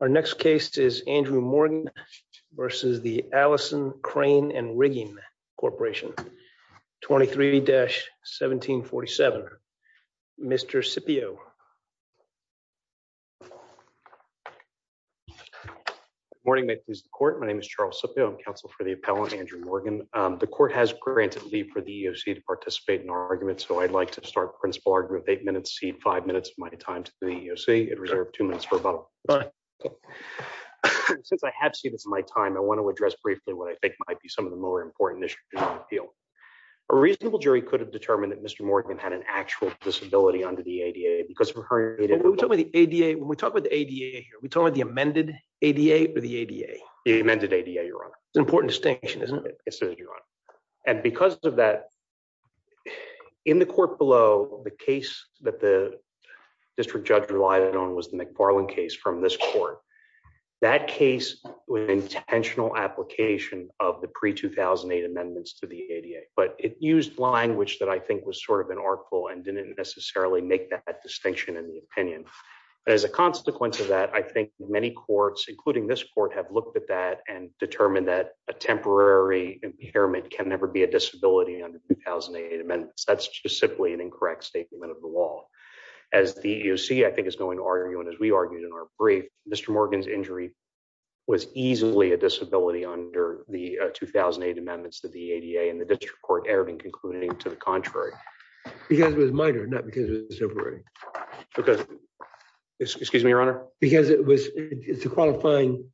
Our next case is Andrew Morgan versus the Allison Crane and Rigging Corporation 23-1747. Mr. Scipio. Good morning. My name is Charles Scipio. I'm counsel for the appellant, Andrew Morgan. The court has granted leave for the EEOC to participate in our argument, so I'd like to start principal argument with eight minutes, cede five minutes of my time to the EEOC. Reserve two minutes for rebuttal. Since I have ceded my time, I want to address briefly what I think might be some of the more important issues in the field. A reasonable jury could have determined that Mr. Morgan had an actual disability under the ADA because of her ADA. When we talk about the ADA here, are we talking about the amended ADA or the ADA? The amended ADA, Your Honor. It's an important distinction, isn't it? It is, Your Honor. And because of that, in the court below, the case that the district judge relied on was the McFarland case from this court. That case was an intentional application of the pre-2008 amendments to the ADA, but it used language that I think was sort of an artful and didn't necessarily make that distinction in the opinion. But as a consequence of that, I think many courts, including this court, have looked at that and determined that a temporary impairment can never be a disability under 2008 amendments. That's just simply an incorrect statement of the law. As the EEOC, I think, is going to argue, and as we argued in our brief, Mr. Morgan's injury was easily a disability under the 2008 amendments that the ADA and the district court erred in concluding to the contrary. Because it was minor, not because it was temporary. Because, excuse me, Your Honor? Because it was, it's a qualifying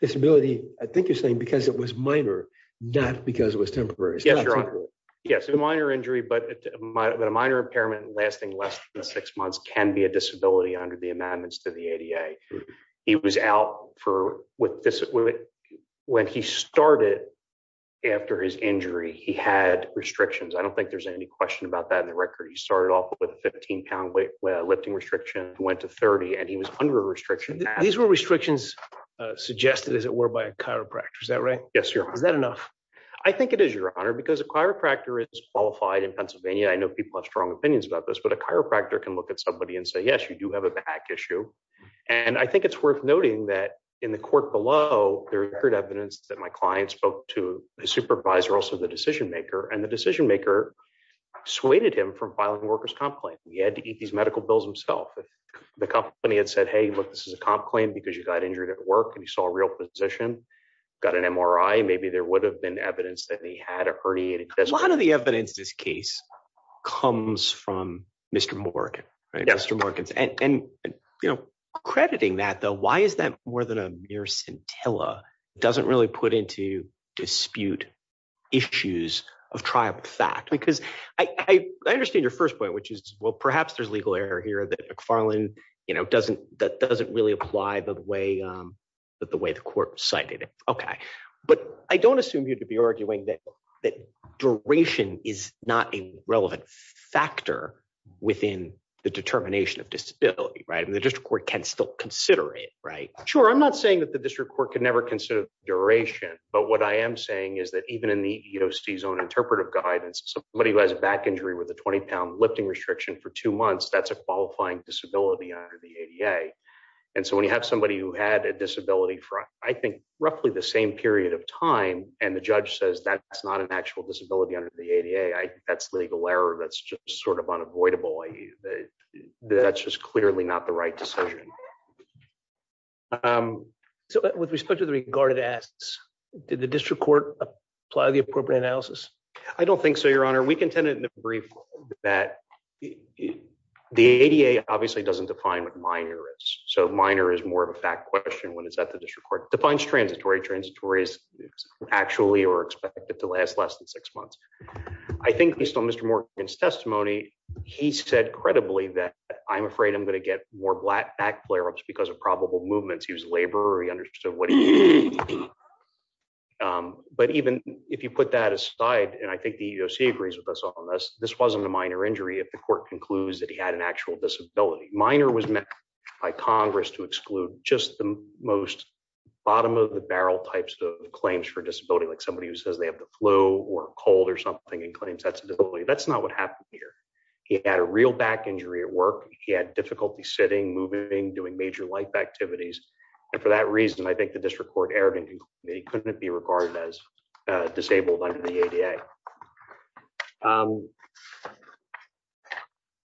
disability, I think you're saying because it was minor, not because it was temporary. Yes, Your Honor. Yes, a minor injury, but a minor impairment lasting less than six months can be a disability under the amendments to the ADA. He was out for, when he started after his injury, he had restrictions. I don't think there's any question about that in the record. He started off with a 15-pound lifting restriction, went to 30, and he was under a restriction. These were restrictions suggested, as it were, by a chiropractor, is that right? Yes, Your Honor. Is that enough? I think it is, Your Honor, because a chiropractor is qualified in Pennsylvania. I know people have strong opinions about this, but a chiropractor can look at somebody and say, yes, you do have a back issue. And I think it's worth noting that in the court below, there's evidence that my client spoke to the supervisor, also the decision maker, and the decision maker dissuaded him from filing a workers' comp claim. He had to eat these medical bills himself. The company had said, hey, look, this is a comp claim because you got injured at work and you saw a real physician, got an MRI. Maybe there would have been evidence that he had a herniated disc. A lot of the evidence in this case comes from Mr. Morgan, Mr. Morgan. And crediting that, though, why is that more than a mere scintilla? It doesn't really put into dispute issues of trial of fact. Because I understand your first point, which is, well, perhaps there's a legal error here that McFarland doesn't really apply the way the court cited it. OK. But I don't assume you'd be arguing that duration is not a relevant factor within the determination of disability, right? And the district court can still consider it, right? Sure. I'm not saying that the district court can never consider duration. But what I am saying is that even in the EEOC's own interpretive guidance, somebody who has a back injury with a 20-pound lifting restriction for two months, that's a qualifying disability under the ADA. And so when you have somebody who had a disability for, I think, roughly the same period of time, and the judge says that's not an actual disability under the ADA, that's legal error. That's just sort of unavoidable. That's just clearly not the right decision. So with respect to the regarded asks, did the district court apply the appropriate analysis? I don't think so, Your Honor. We contended in the brief that the ADA obviously doesn't define what minor is. So minor is more of a fact question when it's at the district court. Defines transitory. Transitory is actually or expected to last less than six months. I think based on Mr. Morgan's testimony, he said credibly that I'm afraid I'm going to get more back flare-ups because of probable movements. He was a laborer. He understood what he was doing. But even if you put that aside, and I think the EEOC agrees with us on this, this wasn't a minor injury if the court concludes that he had an actual disability. Minor was met by Congress to exclude just the most bottom-of-the-barrel types of claims for disability, like somebody who says they have the flu or a cold or something and claims that's a disability. That's not what happened here. He had a real back injury at work. He had difficulty sitting, moving, doing major life activities. And for that reason, I think the district court erred and concluded that he couldn't be regarded as disabled under the ADA.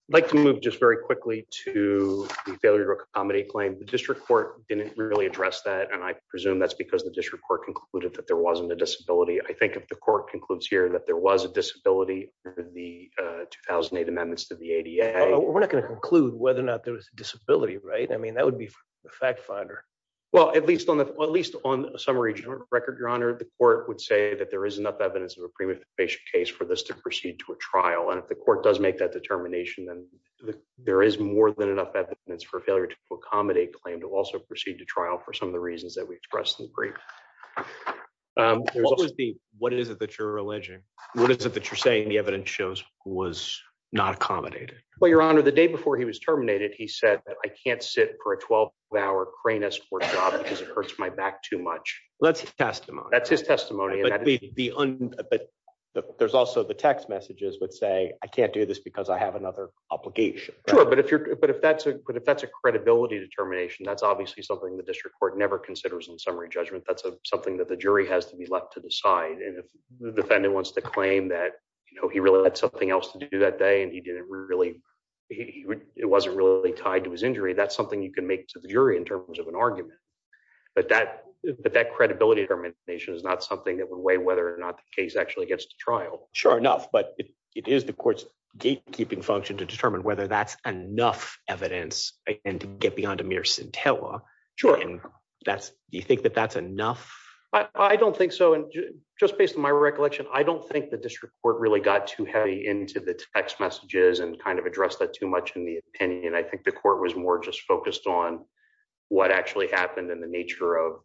I'd like to move just very quickly to the failure to accommodate claim. The district court didn't really address that, and I presume that's because the district court concluded that there wasn't a disability. I think if the court concludes here that there was a disability under the 2008 amendments to the ADA. We're not going to conclude whether or not there was a disability, right? I mean, that would be a fact finder. Well, at least on a summary record, Your Honor, the court would say that there is enough evidence of a premeditation case for this to proceed to a trial. And if the court does make that determination, then there is more than enough evidence for failure to accommodate claim to also proceed to trial for some of the reasons that we expressed in the brief. What is it that you're alleging? What is it that you're saying the evidence shows was not accommodated? Well, Your Honor, the day before he was terminated, he said that I can't sit for a 12 hour crane escort job because it hurts my back too much. That's testimony. That's his testimony. But there's also the text messages would say, I can't do this because I have another obligation. Sure, but if that's a credibility determination, that's obviously something the district court never considers in summary judgment. That's something that the jury has to be left to decide. And if the defendant wants to claim that he really had something else to do that day and it wasn't really tied to his injury, that's something you can make to the jury in terms of an argument. But that credibility determination is not something that would weigh whether or not the case actually gets to trial. Sure enough, but it is the court's gatekeeping function to determine whether that's enough evidence and to get beyond a mere scintilla. Do you think that that's enough? I don't think so. And just based on my recollection, I don't think the district court really got too heavy into the text messages and kind of address that too much in the opinion. I think the court was more just focused on what actually happened in the nature of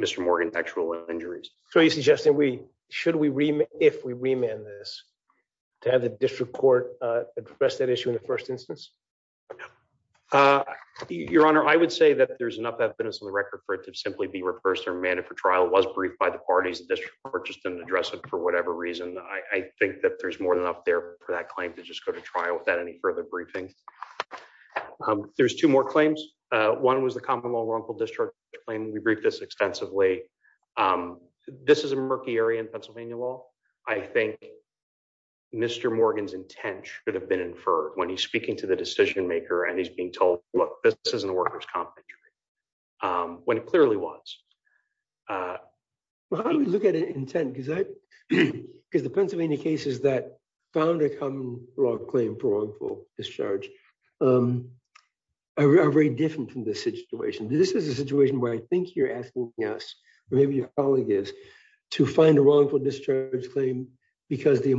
Mr Morgan's actual injuries. So you're suggesting we should we, if we remand this to have the district court address that issue in the first instance? Your Honor, I would say that there's enough evidence on the record for it to simply be reversed or mandate for trial was briefed by the parties. The district court just didn't address it for whatever reason. I think that there's more than enough there for that claim to just go to trial without any further briefings. There's two more claims. One was the common law wrongful discharge claim. We briefed this extensively. This is a murky area in Pennsylvania law. I think Mr Morgan's intent should have been inferred when he's speaking to the decision maker and he's being told, look, this isn't a workers' compensation claim, when it clearly was. Well, how do we look at an intent? Because the Pennsylvania cases that found a common law claim for wrongful discharge are very different from this situation. This is a situation where I think you're asking us, or maybe your colleague is, to find a wrongful discharge claim because the I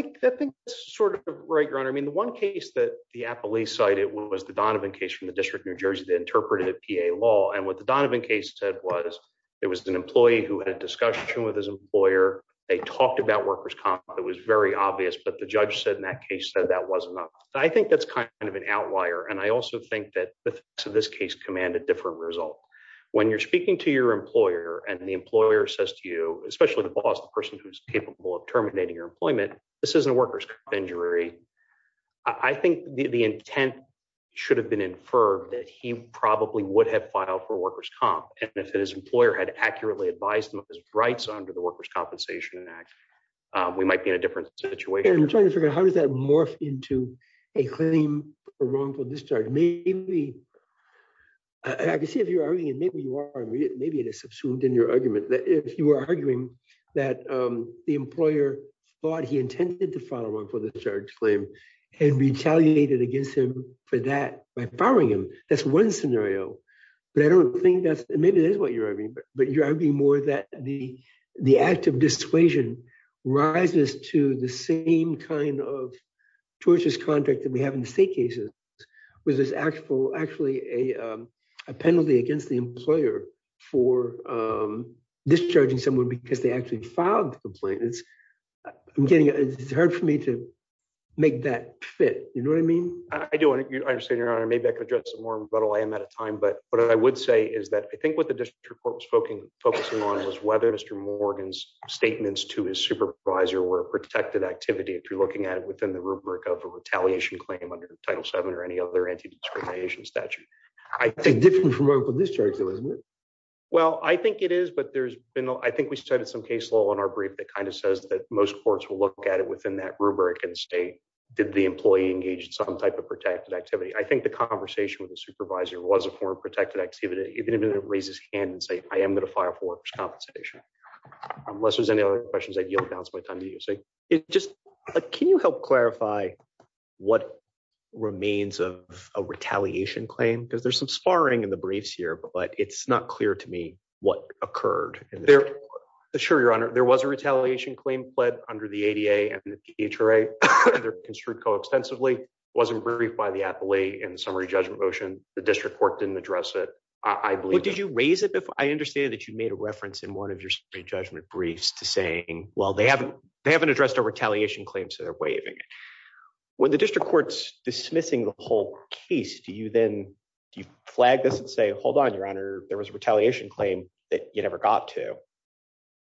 think that's sort of right, Your Honor. I mean, the one case that the appellee cited was the Donovan case from the District of New Jersey that interpreted PA law. What the Donovan case said was it was an employee who had a discussion with his employer. They talked about workers' comp. It was very obvious, but the judge said in that case that that wasn't enough. I think that's kind of an outlier. I also think that the facts of this case command a different result. When you're speaking to your employer and the employer says to you, especially the boss, the person who's capable of this isn't a workers' comp injury, I think the intent should have been inferred that he probably would have filed for workers' comp, and if his employer had accurately advised him of his rights under the Workers' Compensation Act, we might be in a different situation. I'm trying to figure out how does that morph into a claim for wrongful discharge. Maybe, I could see if you're arguing, maybe you are, maybe it is subsumed in your argument, that if you were arguing that the employer intended to file a wrongful discharge claim and retaliated against him for that by firing him, that's one scenario, but I don't think that's, maybe that's what you're arguing, but you're arguing more that the act of dissuasion rises to the same kind of tortious contract that we have in state cases, which is actually a penalty against the employer for discharging someone because they actually filed the complaint. It's hard for me to make that fit, you know what I mean? I do understand, your honor, maybe I could address some more, but I am out of time, but what I would say is that I think what the district court was focusing on was whether Mr. Morgan's statements to his supervisor were a protected activity, if you're looking at it within the rubric of a retaliation claim under Title VII or any other anti-discrimination statute. It's different from open discharge, though, isn't it? Well, I think it is, but there's been, I think we cited some case law in our brief that kind of says that most courts will look at it within that rubric and say, did the employee engage in some type of protected activity? I think the conversation with the supervisor was a form of protected activity, even if it raises his hand and say, I am going to file for workers' compensation. Unless there's any other questions, I yield the balance of my time to you. It just, can you help clarify what remains of a retaliation claim? Because there's some sparring in the briefs here, but it's not clear to me what occurred. Sure, your honor. There was a retaliation claim pled under the ADA and the PHRA, and they're construed co-extensively. It wasn't briefed by the appellee in the summary judgment motion. The district court didn't address it, I believe. Well, did you raise it? I understand that you made a reference in one of your judgment briefs to saying, well, they haven't addressed our retaliation claim, so they're waiving it. When the district court's dismissing the whole case, do you then, do you flag this and say, hold on, your honor, there was a retaliation claim that you never got to?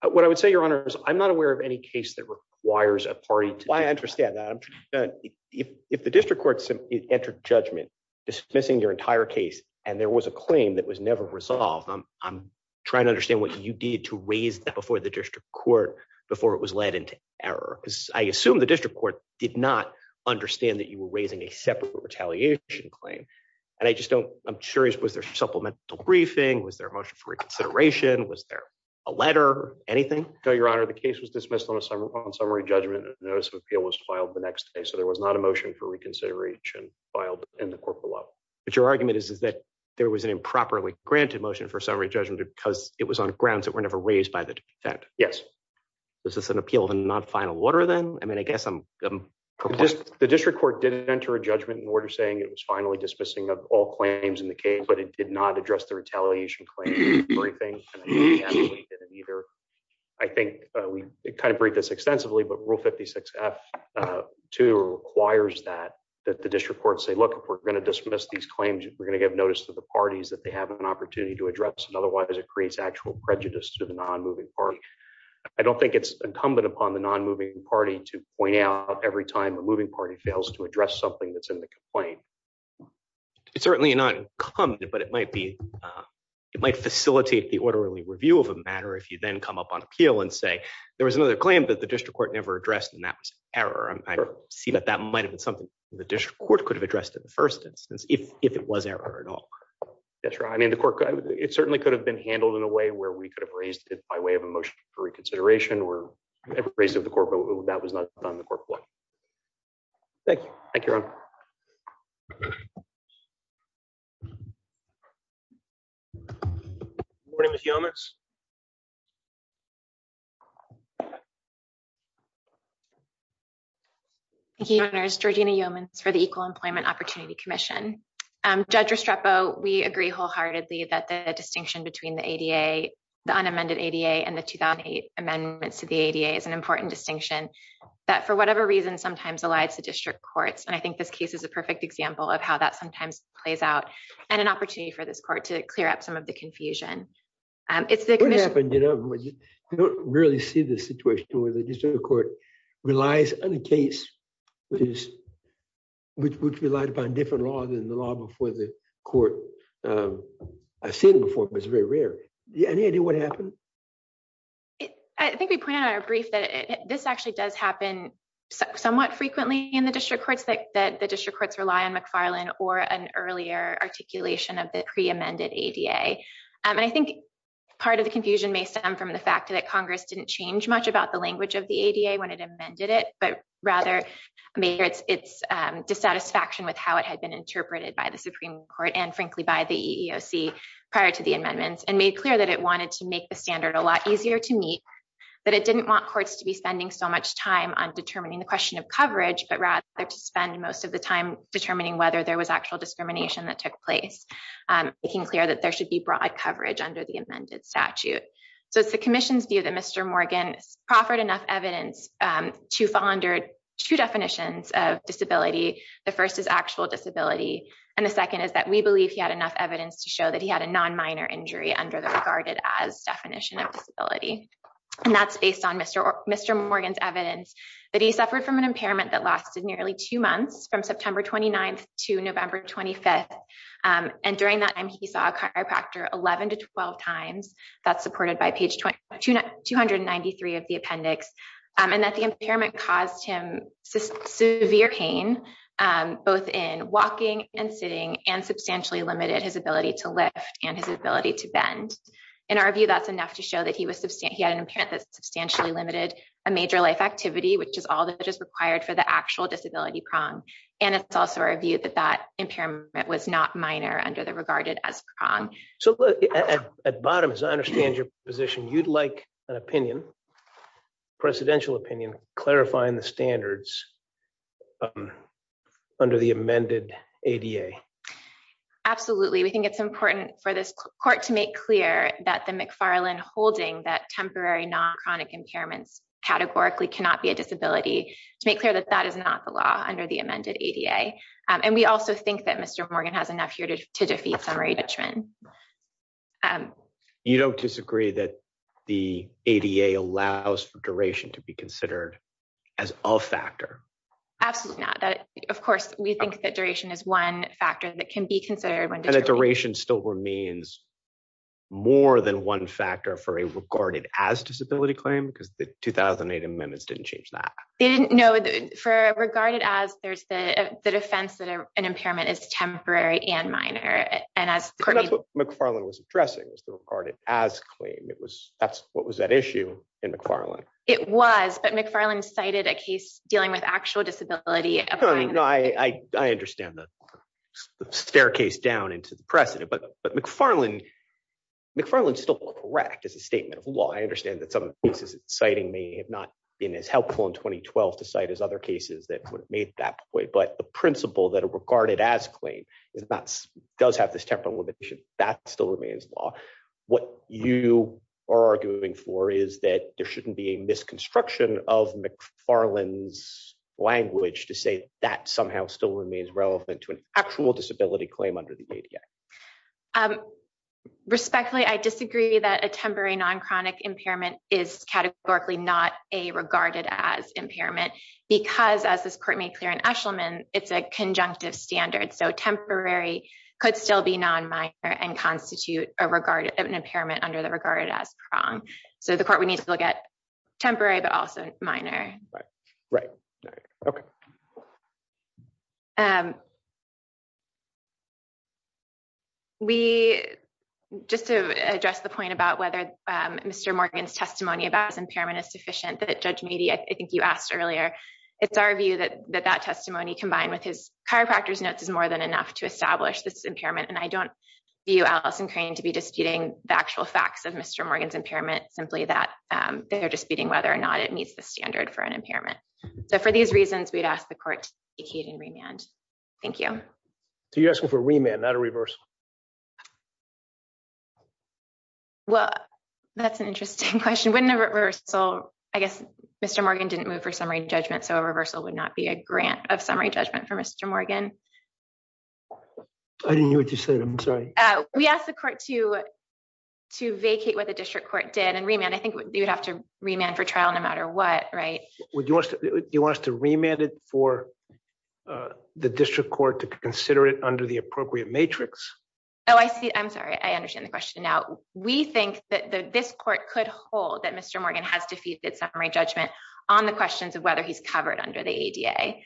What I would say, your honor, is I'm not aware of any case that requires a party to- I understand that. If the district court entered judgment dismissing your entire case, and there was a claim that was never resolved, I'm trying to understand what you did to raise that before the district court, before it was led into error. Because I assume the district court did not understand that you were raising a separate retaliation claim. And I just don't, I'm curious, was there supplemental briefing? Was there a motion for reconsideration? Was there a letter? Anything? No, your honor. The case was dismissed on summary judgment, and a notice of appeal was filed the next day. So there was not a motion for reconsideration filed in the court below. But your argument is that there was an improperly granted motion for summary judgment because it was on grounds that were never raised by the defendant. Yes. Is this an appeal of a non-final order then? I mean, I guess I'm- The district court did enter a judgment in order saying it was finally dismissing of all claims in the case, but it did not address the retaliation claim. I think we kind of break this extensively, but Rule 56-F-2 requires that, that the district court say, look, if we're going to dismiss these claims, we're going to give notice to the parties that they have an opportunity to address. And otherwise it creates actual prejudice to the non-moving party. I don't think it's incumbent upon the non-moving party to point out every time a moving party fails to address something that's in the complaint. It's certainly not incumbent, but it might be, it might facilitate the orderly review of a matter if you then come up on appeal and say, there was another claim that the district court never addressed and that was error. I see that that might've been something that the district court could have addressed in the first instance, if it was error at all. That's right. I mean, the court, it certainly could have been handled in a way where we could have raised it by way of a motion for reconsideration or ever raised it with the court, but that was not done on the court floor. Thank you. Thank you, Ron. Good morning, Ms. Yeomans. Thank you, Your Honors. Georgina Yeomans for the Equal Employment Opportunity Commission. Judge Restrepo, we agree wholeheartedly that the distinction between the ADA, the unamended ADA and the 2008 amendments to the ADA is an important distinction, that for whatever reason, sometimes elides the district courts. And I think this case is a perfect example of how that sometimes plays out and an opportunity for this court to clear up some of the confusion. It's the commission- What happened? You don't really see this situation where the district court relies on a case which relied upon different laws than the law before the court. I've seen it before, but it's very rare. Do you have any idea what happened? I think we pointed out in our brief that this actually does happen somewhat frequently in the district courts, that the district courts rely on McFarland or an earlier articulation of pre-amended ADA. And I think part of the confusion may stem from the fact that Congress didn't change much about the language of the ADA when it amended it, but rather made its dissatisfaction with how it had been interpreted by the Supreme Court and frankly by the EEOC prior to the amendments and made clear that it wanted to make the standard a lot easier to meet, that it didn't want courts to be spending so much time on determining the question of coverage, but rather to spend most of the time determining whether there was actual discrimination that took place, making clear that there should be broad coverage under the amended statute. So it's the commission's view that Mr. Morgan proffered enough evidence to fall under two definitions of disability. The first is actual disability. And the second is that we believe he had enough evidence to show that he had a non-minor injury under the regarded as definition of disability. And that's based on Mr. Morgan's evidence that he suffered from an impairment that and during that time he saw a chiropractor 11 to 12 times, that's supported by page 293 of the appendix, and that the impairment caused him severe pain, both in walking and sitting and substantially limited his ability to lift and his ability to bend. In our view, that's enough to show that he was, he had an impairment that substantially limited a major life activity, which is all that is required for the actual disability prong. And it's also our view that impairment was not minor under the regarded as prong. So at bottom, as I understand your position, you'd like an opinion, presidential opinion clarifying the standards under the amended ADA. Absolutely. We think it's important for this court to make clear that the McFarland holding that temporary non-chronic impairments categorically cannot be a disability to make that that is not the law under the amended ADA. And we also think that Mr. Morgan has enough here to defeat summary detriment. You don't disagree that the ADA allows for duration to be considered as all factor. Absolutely not. Of course, we think that duration is one factor that can be considered when duration still remains more than one factor for a regarded as disability claim because the 2008 amendments didn't change that. They didn't, no, for regarded as there's the defense that an impairment is temporary and minor. And that's what McFarland was addressing, was the regarded as claim. It was, that's what was at issue in McFarland. It was, but McFarland cited a case dealing with actual disability. I understand the staircase down into the precedent, but McFarland, McFarland's still correct as a statement of law. I understand that some of the cases it's citing may have not been as helpful in 2012 to cite as other cases that would have made that point. But the principle that a regarded as claim does have this temporal limitation, that still remains law. What you are arguing for is that there shouldn't be a misconstruction of McFarland's language to say that somehow still remains relevant to an actual disability claim under the ADA. Respectfully, I disagree that a temporary non-chronic impairment is categorically not a regarded as impairment because as this court made clear in Eshleman, it's a conjunctive standard. So temporary could still be non-minor and constitute a regarded impairment under the regarded as prong. So the court would need to look at temporary, but also minor. Right, right. Okay. We, just to address the point about whether Mr. Morgan's testimony about his impairment is sufficient, that Judge Meade, I think you asked earlier, it's our view that that testimony combined with his chiropractor's notes is more than enough to establish this impairment. And I don't view Allison Crane to be disputing the actual facts of Mr. Morgan's impairment, simply that they're disputing whether or not it meets the standard for an impairment. So for these reasons, we'd ask the court to vacate what the district court did and remand. I think you'd have to remand for trial no matter what, right? You want us to remand it for the district court to consider it under the appropriate matrix? Oh, I see. I'm sorry. I understand the question now. We think that this court could hold that Mr. Morgan has defeated summary judgment on the questions of whether he's covered under the ADA.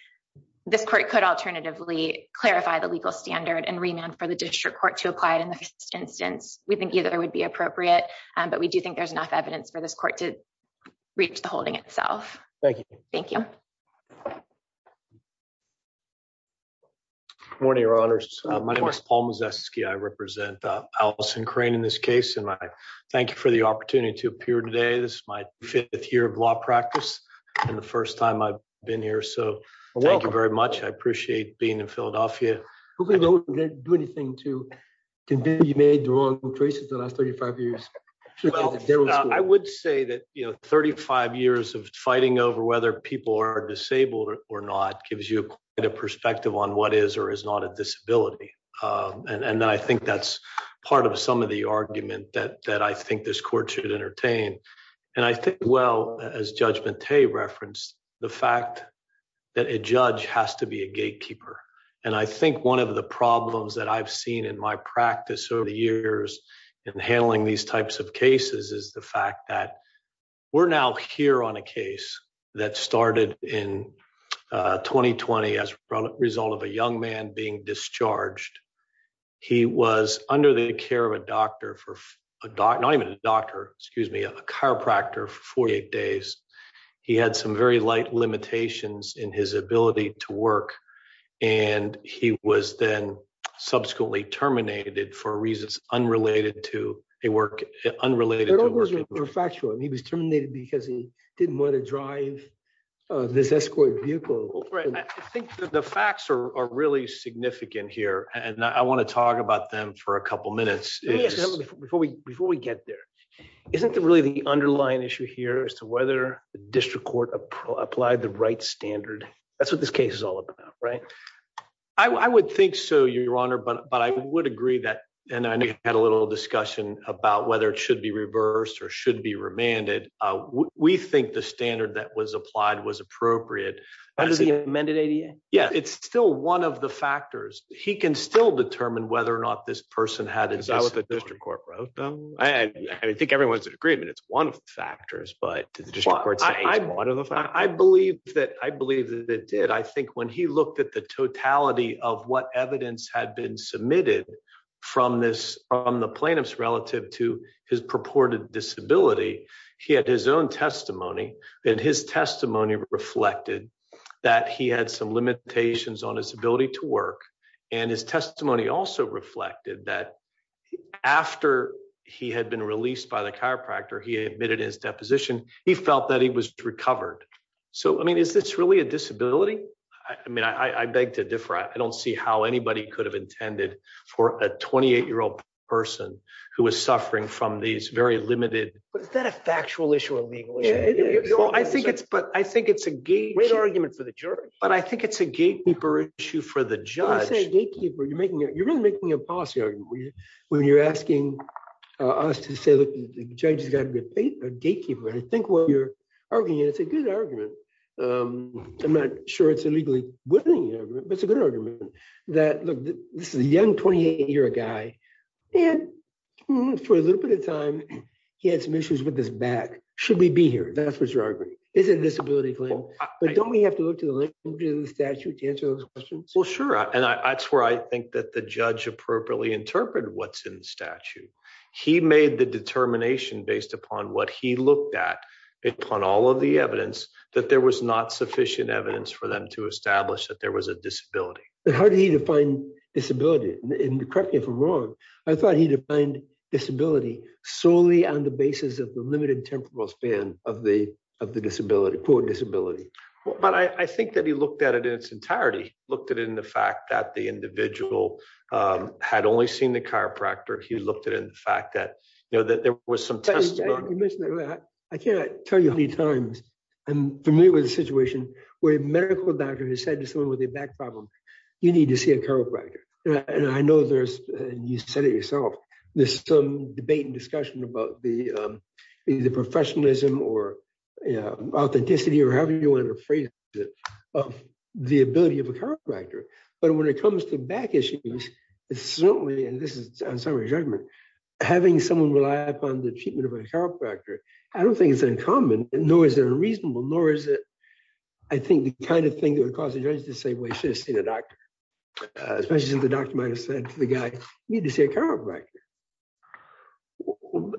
This court could alternatively clarify the legal standard and remand for the district court to apply it in the first instance. We think either would be appropriate, but we do think there's enough evidence for this court to reach the holding Thank you. Thank you. Good morning, Your Honors. My name is Paul Mazesky. I represent Allison Crane in this case, and I thank you for the opportunity to appear today. This is my fifth year of law practice and the first time I've been here, so thank you very much. I appreciate being in Philadelphia. I wouldn't do anything to convince you that you made the wrong choices the last 35 years. I would say that 35 years of fighting over whether people are disabled or not gives you quite a perspective on what is or is not a disability, and I think that's part of some of the argument that I think this court should entertain. I think well, as Judge Mate referenced, the fact that a judge has to be a gatekeeper, and I think one of the problems that I've seen in my practice over the years in handling these types of cases is the fact that we're now here on a case that started in 2020 as a result of a young man being discharged. He was under the care of a doctor for, not even a doctor, excuse me, a chiropractor for 48 days. He had some very light limitations in his ability to work, and he was then subsequently terminated for reasons unrelated to a work, unrelated to work. He was terminated because he didn't want to drive this escort vehicle. I think that the facts are really significant here, and I want to talk about them for a couple minutes. Before we get there, isn't it really the underlying issue here as to whether the district court applied the right standard? That's what this case is all about, right? I would think so, Your Honor, but I would agree that, and I think I had a little discussion about whether it should be reversed or should be remanded. We think the standard that was applied was appropriate. Under the amended ADA? Yeah, it's still one of the factors. He can still determine whether or not this person had... Is that what the district court wrote, though? I think everyone's in agreement. It's one of the factors, but did the district court say it's one of the factors? I believe that it did. I think when he looked at the totality of what evidence had been submitted from the plaintiffs relative to his purported disability, he had his own testimony, and his testimony reflected that he had some limitations on his ability to work, and his testimony also reflected that after he had been released by the chiropractor, he admitted in his deposition he felt that he was recovered. So, I mean, is this really a disability? I mean, I beg to differ. I don't see how anybody could have intended for a 28-year-old person who was suffering from these very limited... But is that a factual issue or legal issue? I think it's a great argument for the jury, but I think it's a gatekeeper issue for the judge. When you say gatekeeper, you're really making a policy argument. When you're asking us to say, look, the judge has got to be a gatekeeper, I think what you're arguing is a good argument. I'm not sure it's a legally good argument, but it's a good argument that, look, this is a young 28-year-old guy, and for a little bit of time, he had some issues with his back. Should we be here? Is it a disability claim? But don't we have to look to the language of the statute to answer those questions? Well, sure. And that's where I think that the judge appropriately interpreted what's in the statute. He made the determination based upon what he looked at upon all of the evidence that there was not sufficient evidence for them to establish that there was a disability. But how did he define disability? And correct me if I'm wrong. I thought he defined disability solely on the basis of the limited temporal span of the disability, poor disability. But I think that he looked at it in its entirety. He looked at it in the fact that the individual had only seen the chiropractor. He looked at it in the fact that there was some testimony- You mentioned that earlier. I can't tell you how many times I'm familiar with a situation where a medical doctor has said to someone with a back problem, you need to see a chiropractor. And I know there's, and you said it yourself, there's some debate and discussion about the professionalism or authenticity or however you want to phrase it, of the ability of a chiropractor. But when it comes to back issues, it's certainly, and this is on summary judgment, having someone rely upon the treatment of a chiropractor, I don't think it's uncommon, nor is it unreasonable, nor is it, I think, the kind of thing that would cause the judge to say, well, you should have seen the doctor, especially since the doctor might have said to the guy, you need to see a chiropractor.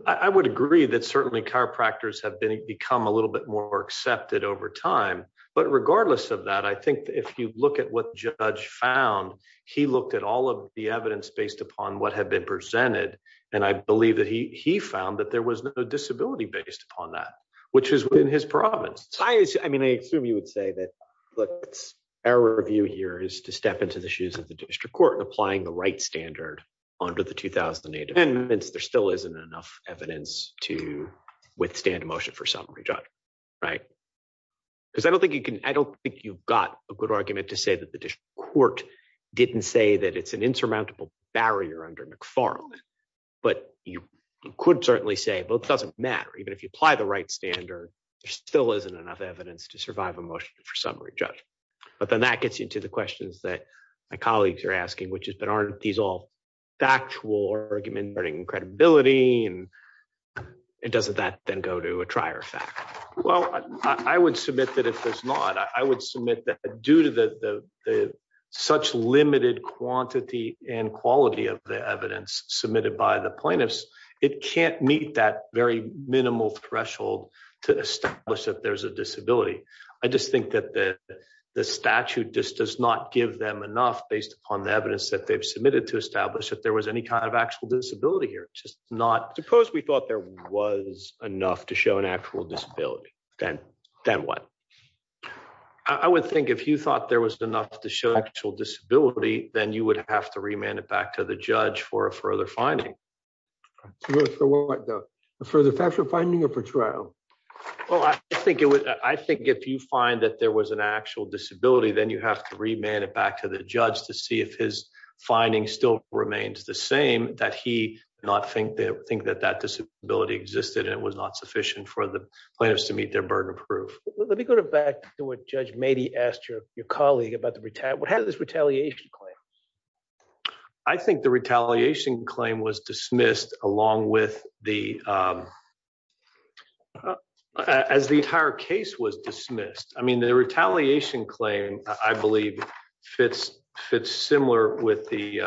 I would agree that certainly chiropractors have become a little bit more accepted over time. But regardless of that, I think if you look at what the judge found, he looked at all of the evidence based upon what had been presented. And I believe that he found that there was no disability based upon that, which is within his province. I assume you would say that, look, our view here is to step into the shoes of the district court and applying the right standard under the 2008 amendments, there still isn't enough evidence to withstand a motion for summary judgment, right? Because I don't think you've got a good argument to say that the district court didn't say that it's an insurmountable barrier under McFarland. But you could certainly say, well, it doesn't matter. Even if you apply the right standard, there still isn't enough evidence to survive a motion for summary judgment. But then that gets into the questions that my colleagues are asking, which is, but aren't these all factual arguments regarding credibility? And doesn't that then go to a trier fact? Well, I would submit that it does not. I would submit that due to such limited quantity and quality of the evidence submitted by the I just think that the statute just does not give them enough based upon the evidence that they've submitted to establish that there was any kind of actual disability here. It's just not, suppose we thought there was enough to show an actual disability, then what? I would think if you thought there was enough to show actual disability, then you would have to remand it back to the judge for a further finding. Further factual finding or for trial? Well, I think if you find that there was an actual disability, then you have to remand it back to the judge to see if his finding still remains the same, that he did not think that that disability existed and it was not sufficient for the plaintiffs to meet their burden of proof. Let me go back to what Judge was dismissed along with the, as the entire case was dismissed. I mean, the retaliation claim, I believe fits similar with the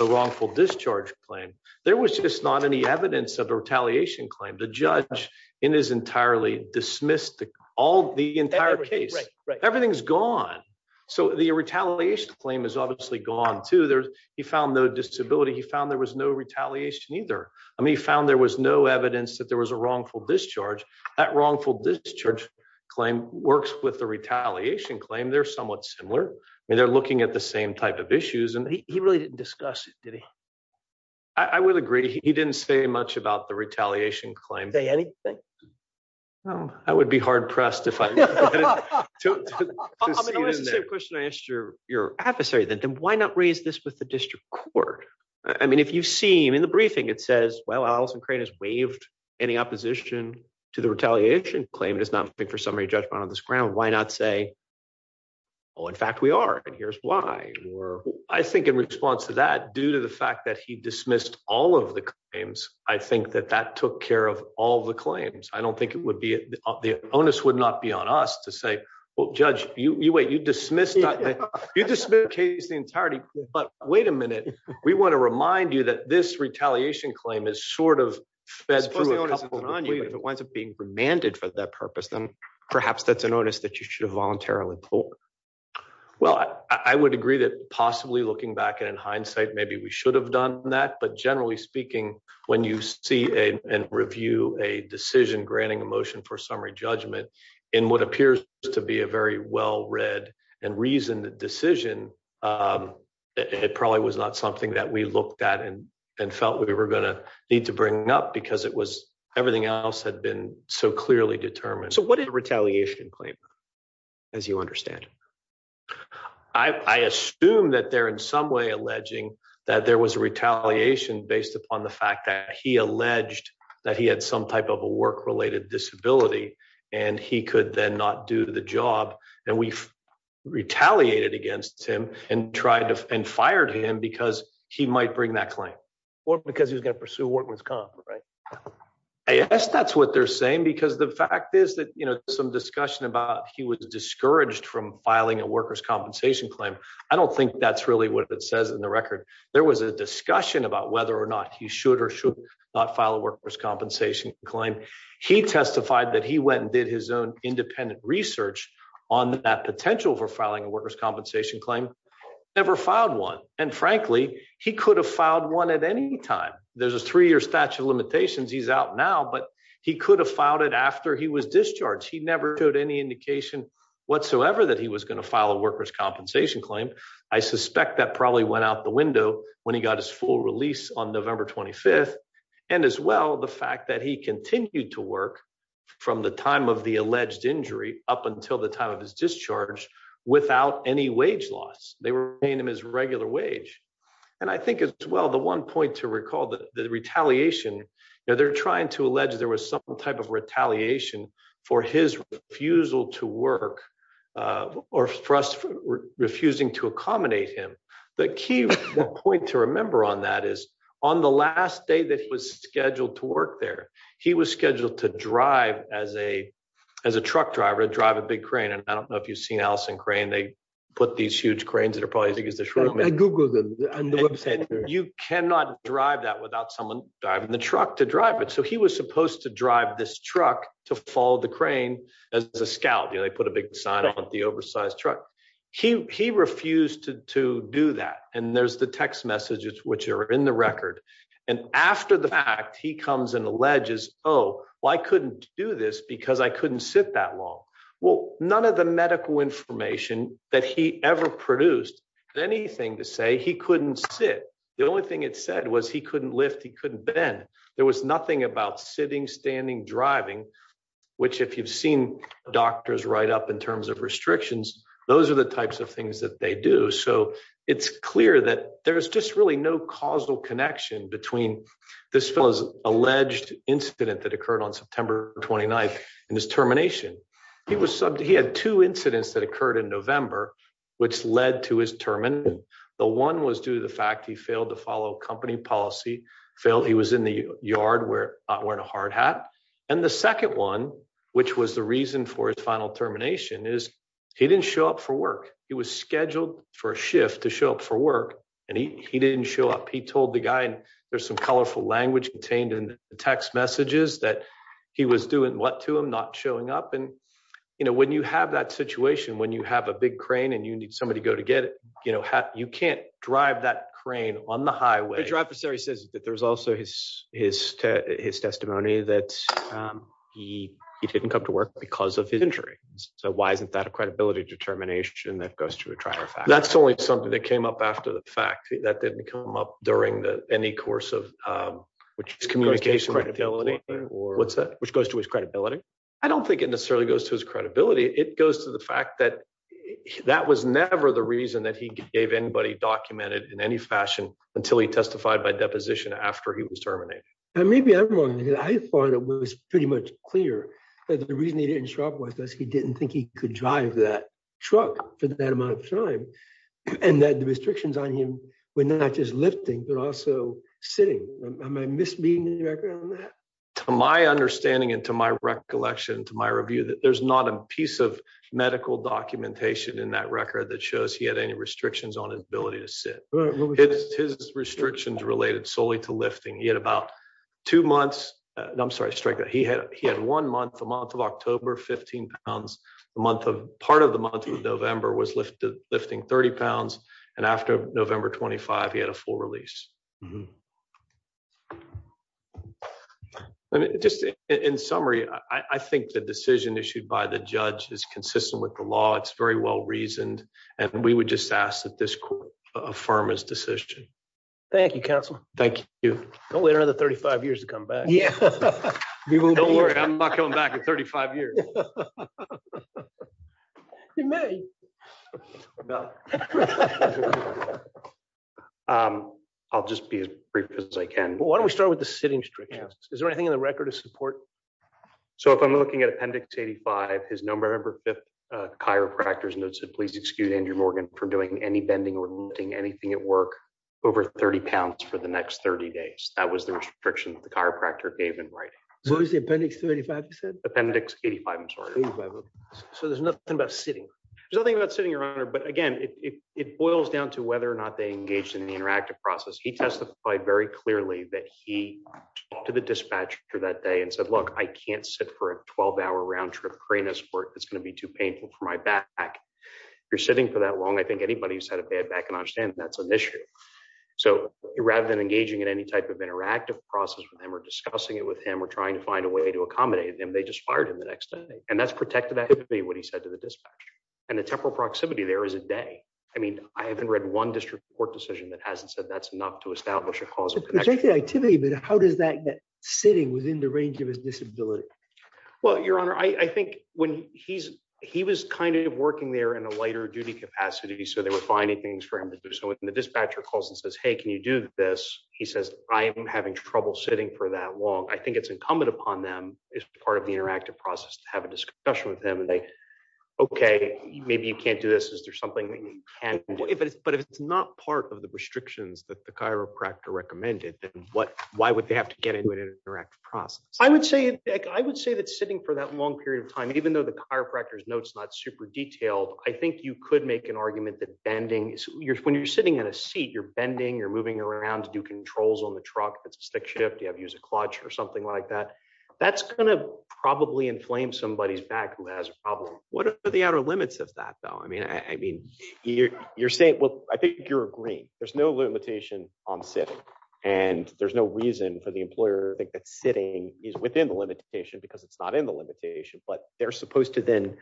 wrongful discharge claim. There was just not any evidence of a retaliation claim. The judge in his entirely dismissed all the entire case, everything's gone. So the retaliation claim is obviously gone too. He found no disability. He was no retaliation either. I mean, he found there was no evidence that there was a wrongful discharge. That wrongful discharge claim works with the retaliation claim. They're somewhat similar. I mean, they're looking at the same type of issues. He really didn't discuss it, did he? I would agree. He didn't say much about the retaliation claim. Say anything? No, I would be hard-pressed if I to see it in there. I mean, I'm going to ask the same question I asked your adversary. Then why not raise this with the district court? I mean, if you've seen in the briefing, it says, well, Alison Crane has waived any opposition to the retaliation claim. It does not make for summary judgment on this ground. Why not say, oh, in fact we are, and here's why. I think in response to that, due to the fact that he dismissed all of the claims, I think that that took care of all the claims. I don't think it would be, the onus would not be on us to say, well, judge, you wait, you dismissed the case in entirety, but wait a minute. We want to remind you that this retaliation claim is sort of fed through. If it winds up being remanded for that purpose, then perhaps that's an onus that you should have voluntarily pulled. Well, I would agree that possibly looking back and in hindsight, maybe we should have done that. But generally speaking, when you see and review a decision granting a motion for summary judgment in what appears to be a very well-read and reasoned decision, it probably was not something that we looked at and felt we were going to need to bring up because it was, everything else had been so clearly determined. So what did the retaliation claim as you understand? I assume that they're in some way alleging that there was a retaliation based upon the fact that he alleged that he had some type of a work-related disability and he could then not do the job. And we've retaliated against him and tried to, and fired him because he might bring that claim. Or because he was going to pursue workman's comp, right? I guess that's what they're saying because the fact is that, you know, some discussion about he was discouraged from filing a worker's compensation claim. I don't think that's what it says in the record. There was a discussion about whether or not he should or should not file a worker's compensation claim. He testified that he went and did his own independent research on that potential for filing a worker's compensation claim, never filed one. And frankly, he could have filed one at any time. There's a three-year statute of limitations. He's out now, but he could have filed it after he was discharged. He never showed any indication whatsoever that he was going to file a worker's compensation claim. I suspect that probably went out the window when he got his full release on November 25th. And as well, the fact that he continued to work from the time of the alleged injury up until the time of his discharge without any wage loss. They were paying him his regular wage. And I think as well, the one point to recall that the retaliation, you know, they're trying to allege there was some type of retaliation for his refusal to work or for us refusing to accommodate him. The key point to remember on that is on the last day that he was scheduled to work there, he was scheduled to drive as a truck driver, drive a big crane. And I don't know if you've seen Allison crane, they put these huge cranes that are probably as big as the shrimp. You cannot drive that without someone driving the truck to drive it. So he was supposed to drive this followed the crane as a scout. You know, they put a big sign on the oversized truck. He refused to do that. And there's the text messages which are in the record. And after the fact, he comes and alleges, oh, well, I couldn't do this because I couldn't sit that long. Well, none of the medical information that he ever produced anything to say he couldn't sit. The only thing it said was he couldn't lift. He couldn't bend. There was nothing about sitting, standing, driving, which if you've seen doctors write up in terms of restrictions, those are the types of things that they do. So it's clear that there's just really no causal connection between this fella's alleged incident that occurred on September 29th and his termination. He had two incidents that occurred in November, which led to his termination. The one was due to the fact he failed to follow company policy. He was in the yard wearing a hard hat. And the second one, which was the reason for his final termination, is he didn't show up for work. He was scheduled for a shift to show up for work and he didn't show up. He told the guy and there's some colorful language contained in the text messages that he was doing what to him, not showing up. And, you know, when you have that situation, when you have a big crane and you can't drive that crane on the highway, your adversary says that there's also his testimony that he didn't come to work because of his injury. So why isn't that a credibility determination that goes to a trial? That's only something that came up after the fact that didn't come up during any course of communication, credibility, or what's that, which goes to his credibility. I don't think it necessarily goes to his credibility. It goes to the fact that that was never the reason that he gave anybody documented in any fashion until he testified by deposition after he was terminated. And maybe I'm wrong. I thought it was pretty much clear that the reason he didn't show up was because he didn't think he could drive that truck for that amount of time and that the restrictions on him were not just lifting, but also sitting. Am I misreading the record on that? To my understanding and to my recollection, to my review, that there's not a piece of medical documentation in that record that shows he had any restrictions on his ability to sit. His restrictions related solely to lifting. He had about two months, I'm sorry, he had one month, the month of October, 15 pounds. The month of, part of the month of November was lifting 30 pounds. And after November 25, he had a full release. I mean, just in summary, I think the decision issued by the judge is consistent with the law. It's very well reasoned. And we would just ask that this court affirm his decision. Thank you, counsel. Thank you. Don't wait another 35 years to come back. Don't worry, I'm not coming back in 35 years. You may. No. I'll just be as brief as I can. Why don't we start with the sitting restrictions? Is there anything in the record to support? So if I'm looking at Appendix 85, his number, I remember 5th chiropractor's note said, please excuse Andrew Morgan for doing any bending or lifting anything at work over 30 pounds for the next 30 days. That was the restriction that the chiropractor gave in writing. What was the Appendix 35 you said? Appendix 85, I'm sorry. 85, okay. So there's nothing about sitting. There's nothing about sitting, Your Honor. But again, it boils down to whether or not they engaged in the interactive process. He testified very clearly that he talked to the dispatcher that day and said, look, I can't sit for a 12-hour round trip crane escort. It's going to be too painful for my back. If you're sitting for that long, I think anybody who's had a bad back can understand that's an issue. So rather than engaging in any type of interactive process with him or discussing it with him or trying to find a way to accommodate him, they just fired him the next day. And that's protected activity, what he said to the dispatcher. And the temporal proximity there is a day. I mean, I haven't read one district court decision that hasn't said that's enough to establish a causal connection. It's protected activity, but how does that get sitting within the range of his disability? Well, Your Honor, I think when he's, he was kind of working there in a lighter duty capacity, so they were finding things for him to do. So when the dispatcher calls and says, hey, can you do this? He says, I am having trouble sitting for that long. I think it's incumbent upon them as part of the interactive process to have a discussion with okay, maybe you can't do this. Is there something that you can do? But if it's not part of the restrictions that the chiropractor recommended, then why would they have to get into an interactive process? I would say that sitting for that long period of time, even though the chiropractor's notes not super detailed, I think you could make an argument that bending is, when you're sitting in a seat, you're bending, you're moving around to do controls on the truck. That's a stick shift. You have to use a clutch or something like that. That's going to probably inflame somebody's back who has a problem. What are the outer limits of that though? I mean, you're saying, well, I think you're agreeing. There's no limitation on sitting and there's no reason for the employer to think that sitting is within the limitation because it's not in the limitation, but they're supposed to then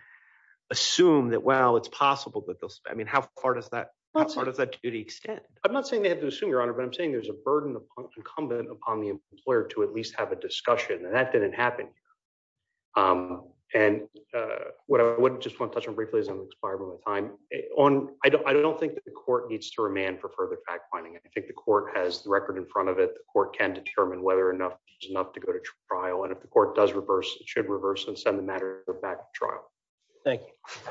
assume that, well, it's possible that they'll, I mean, how far does that, how far does that duty extend? I'm not saying they have to assume, Your Honor, but I'm saying there's a burden incumbent upon the employer to at least have a discussion and that didn't happen. And what I would just want to touch on briefly is I'm expiring on time. I don't think that the court needs to remand for further fact-finding. I think the court has the record in front of it. The court can determine whether enough is enough to go to trial. And if the court does reverse, it should reverse and send the matter back to trial. Thank you.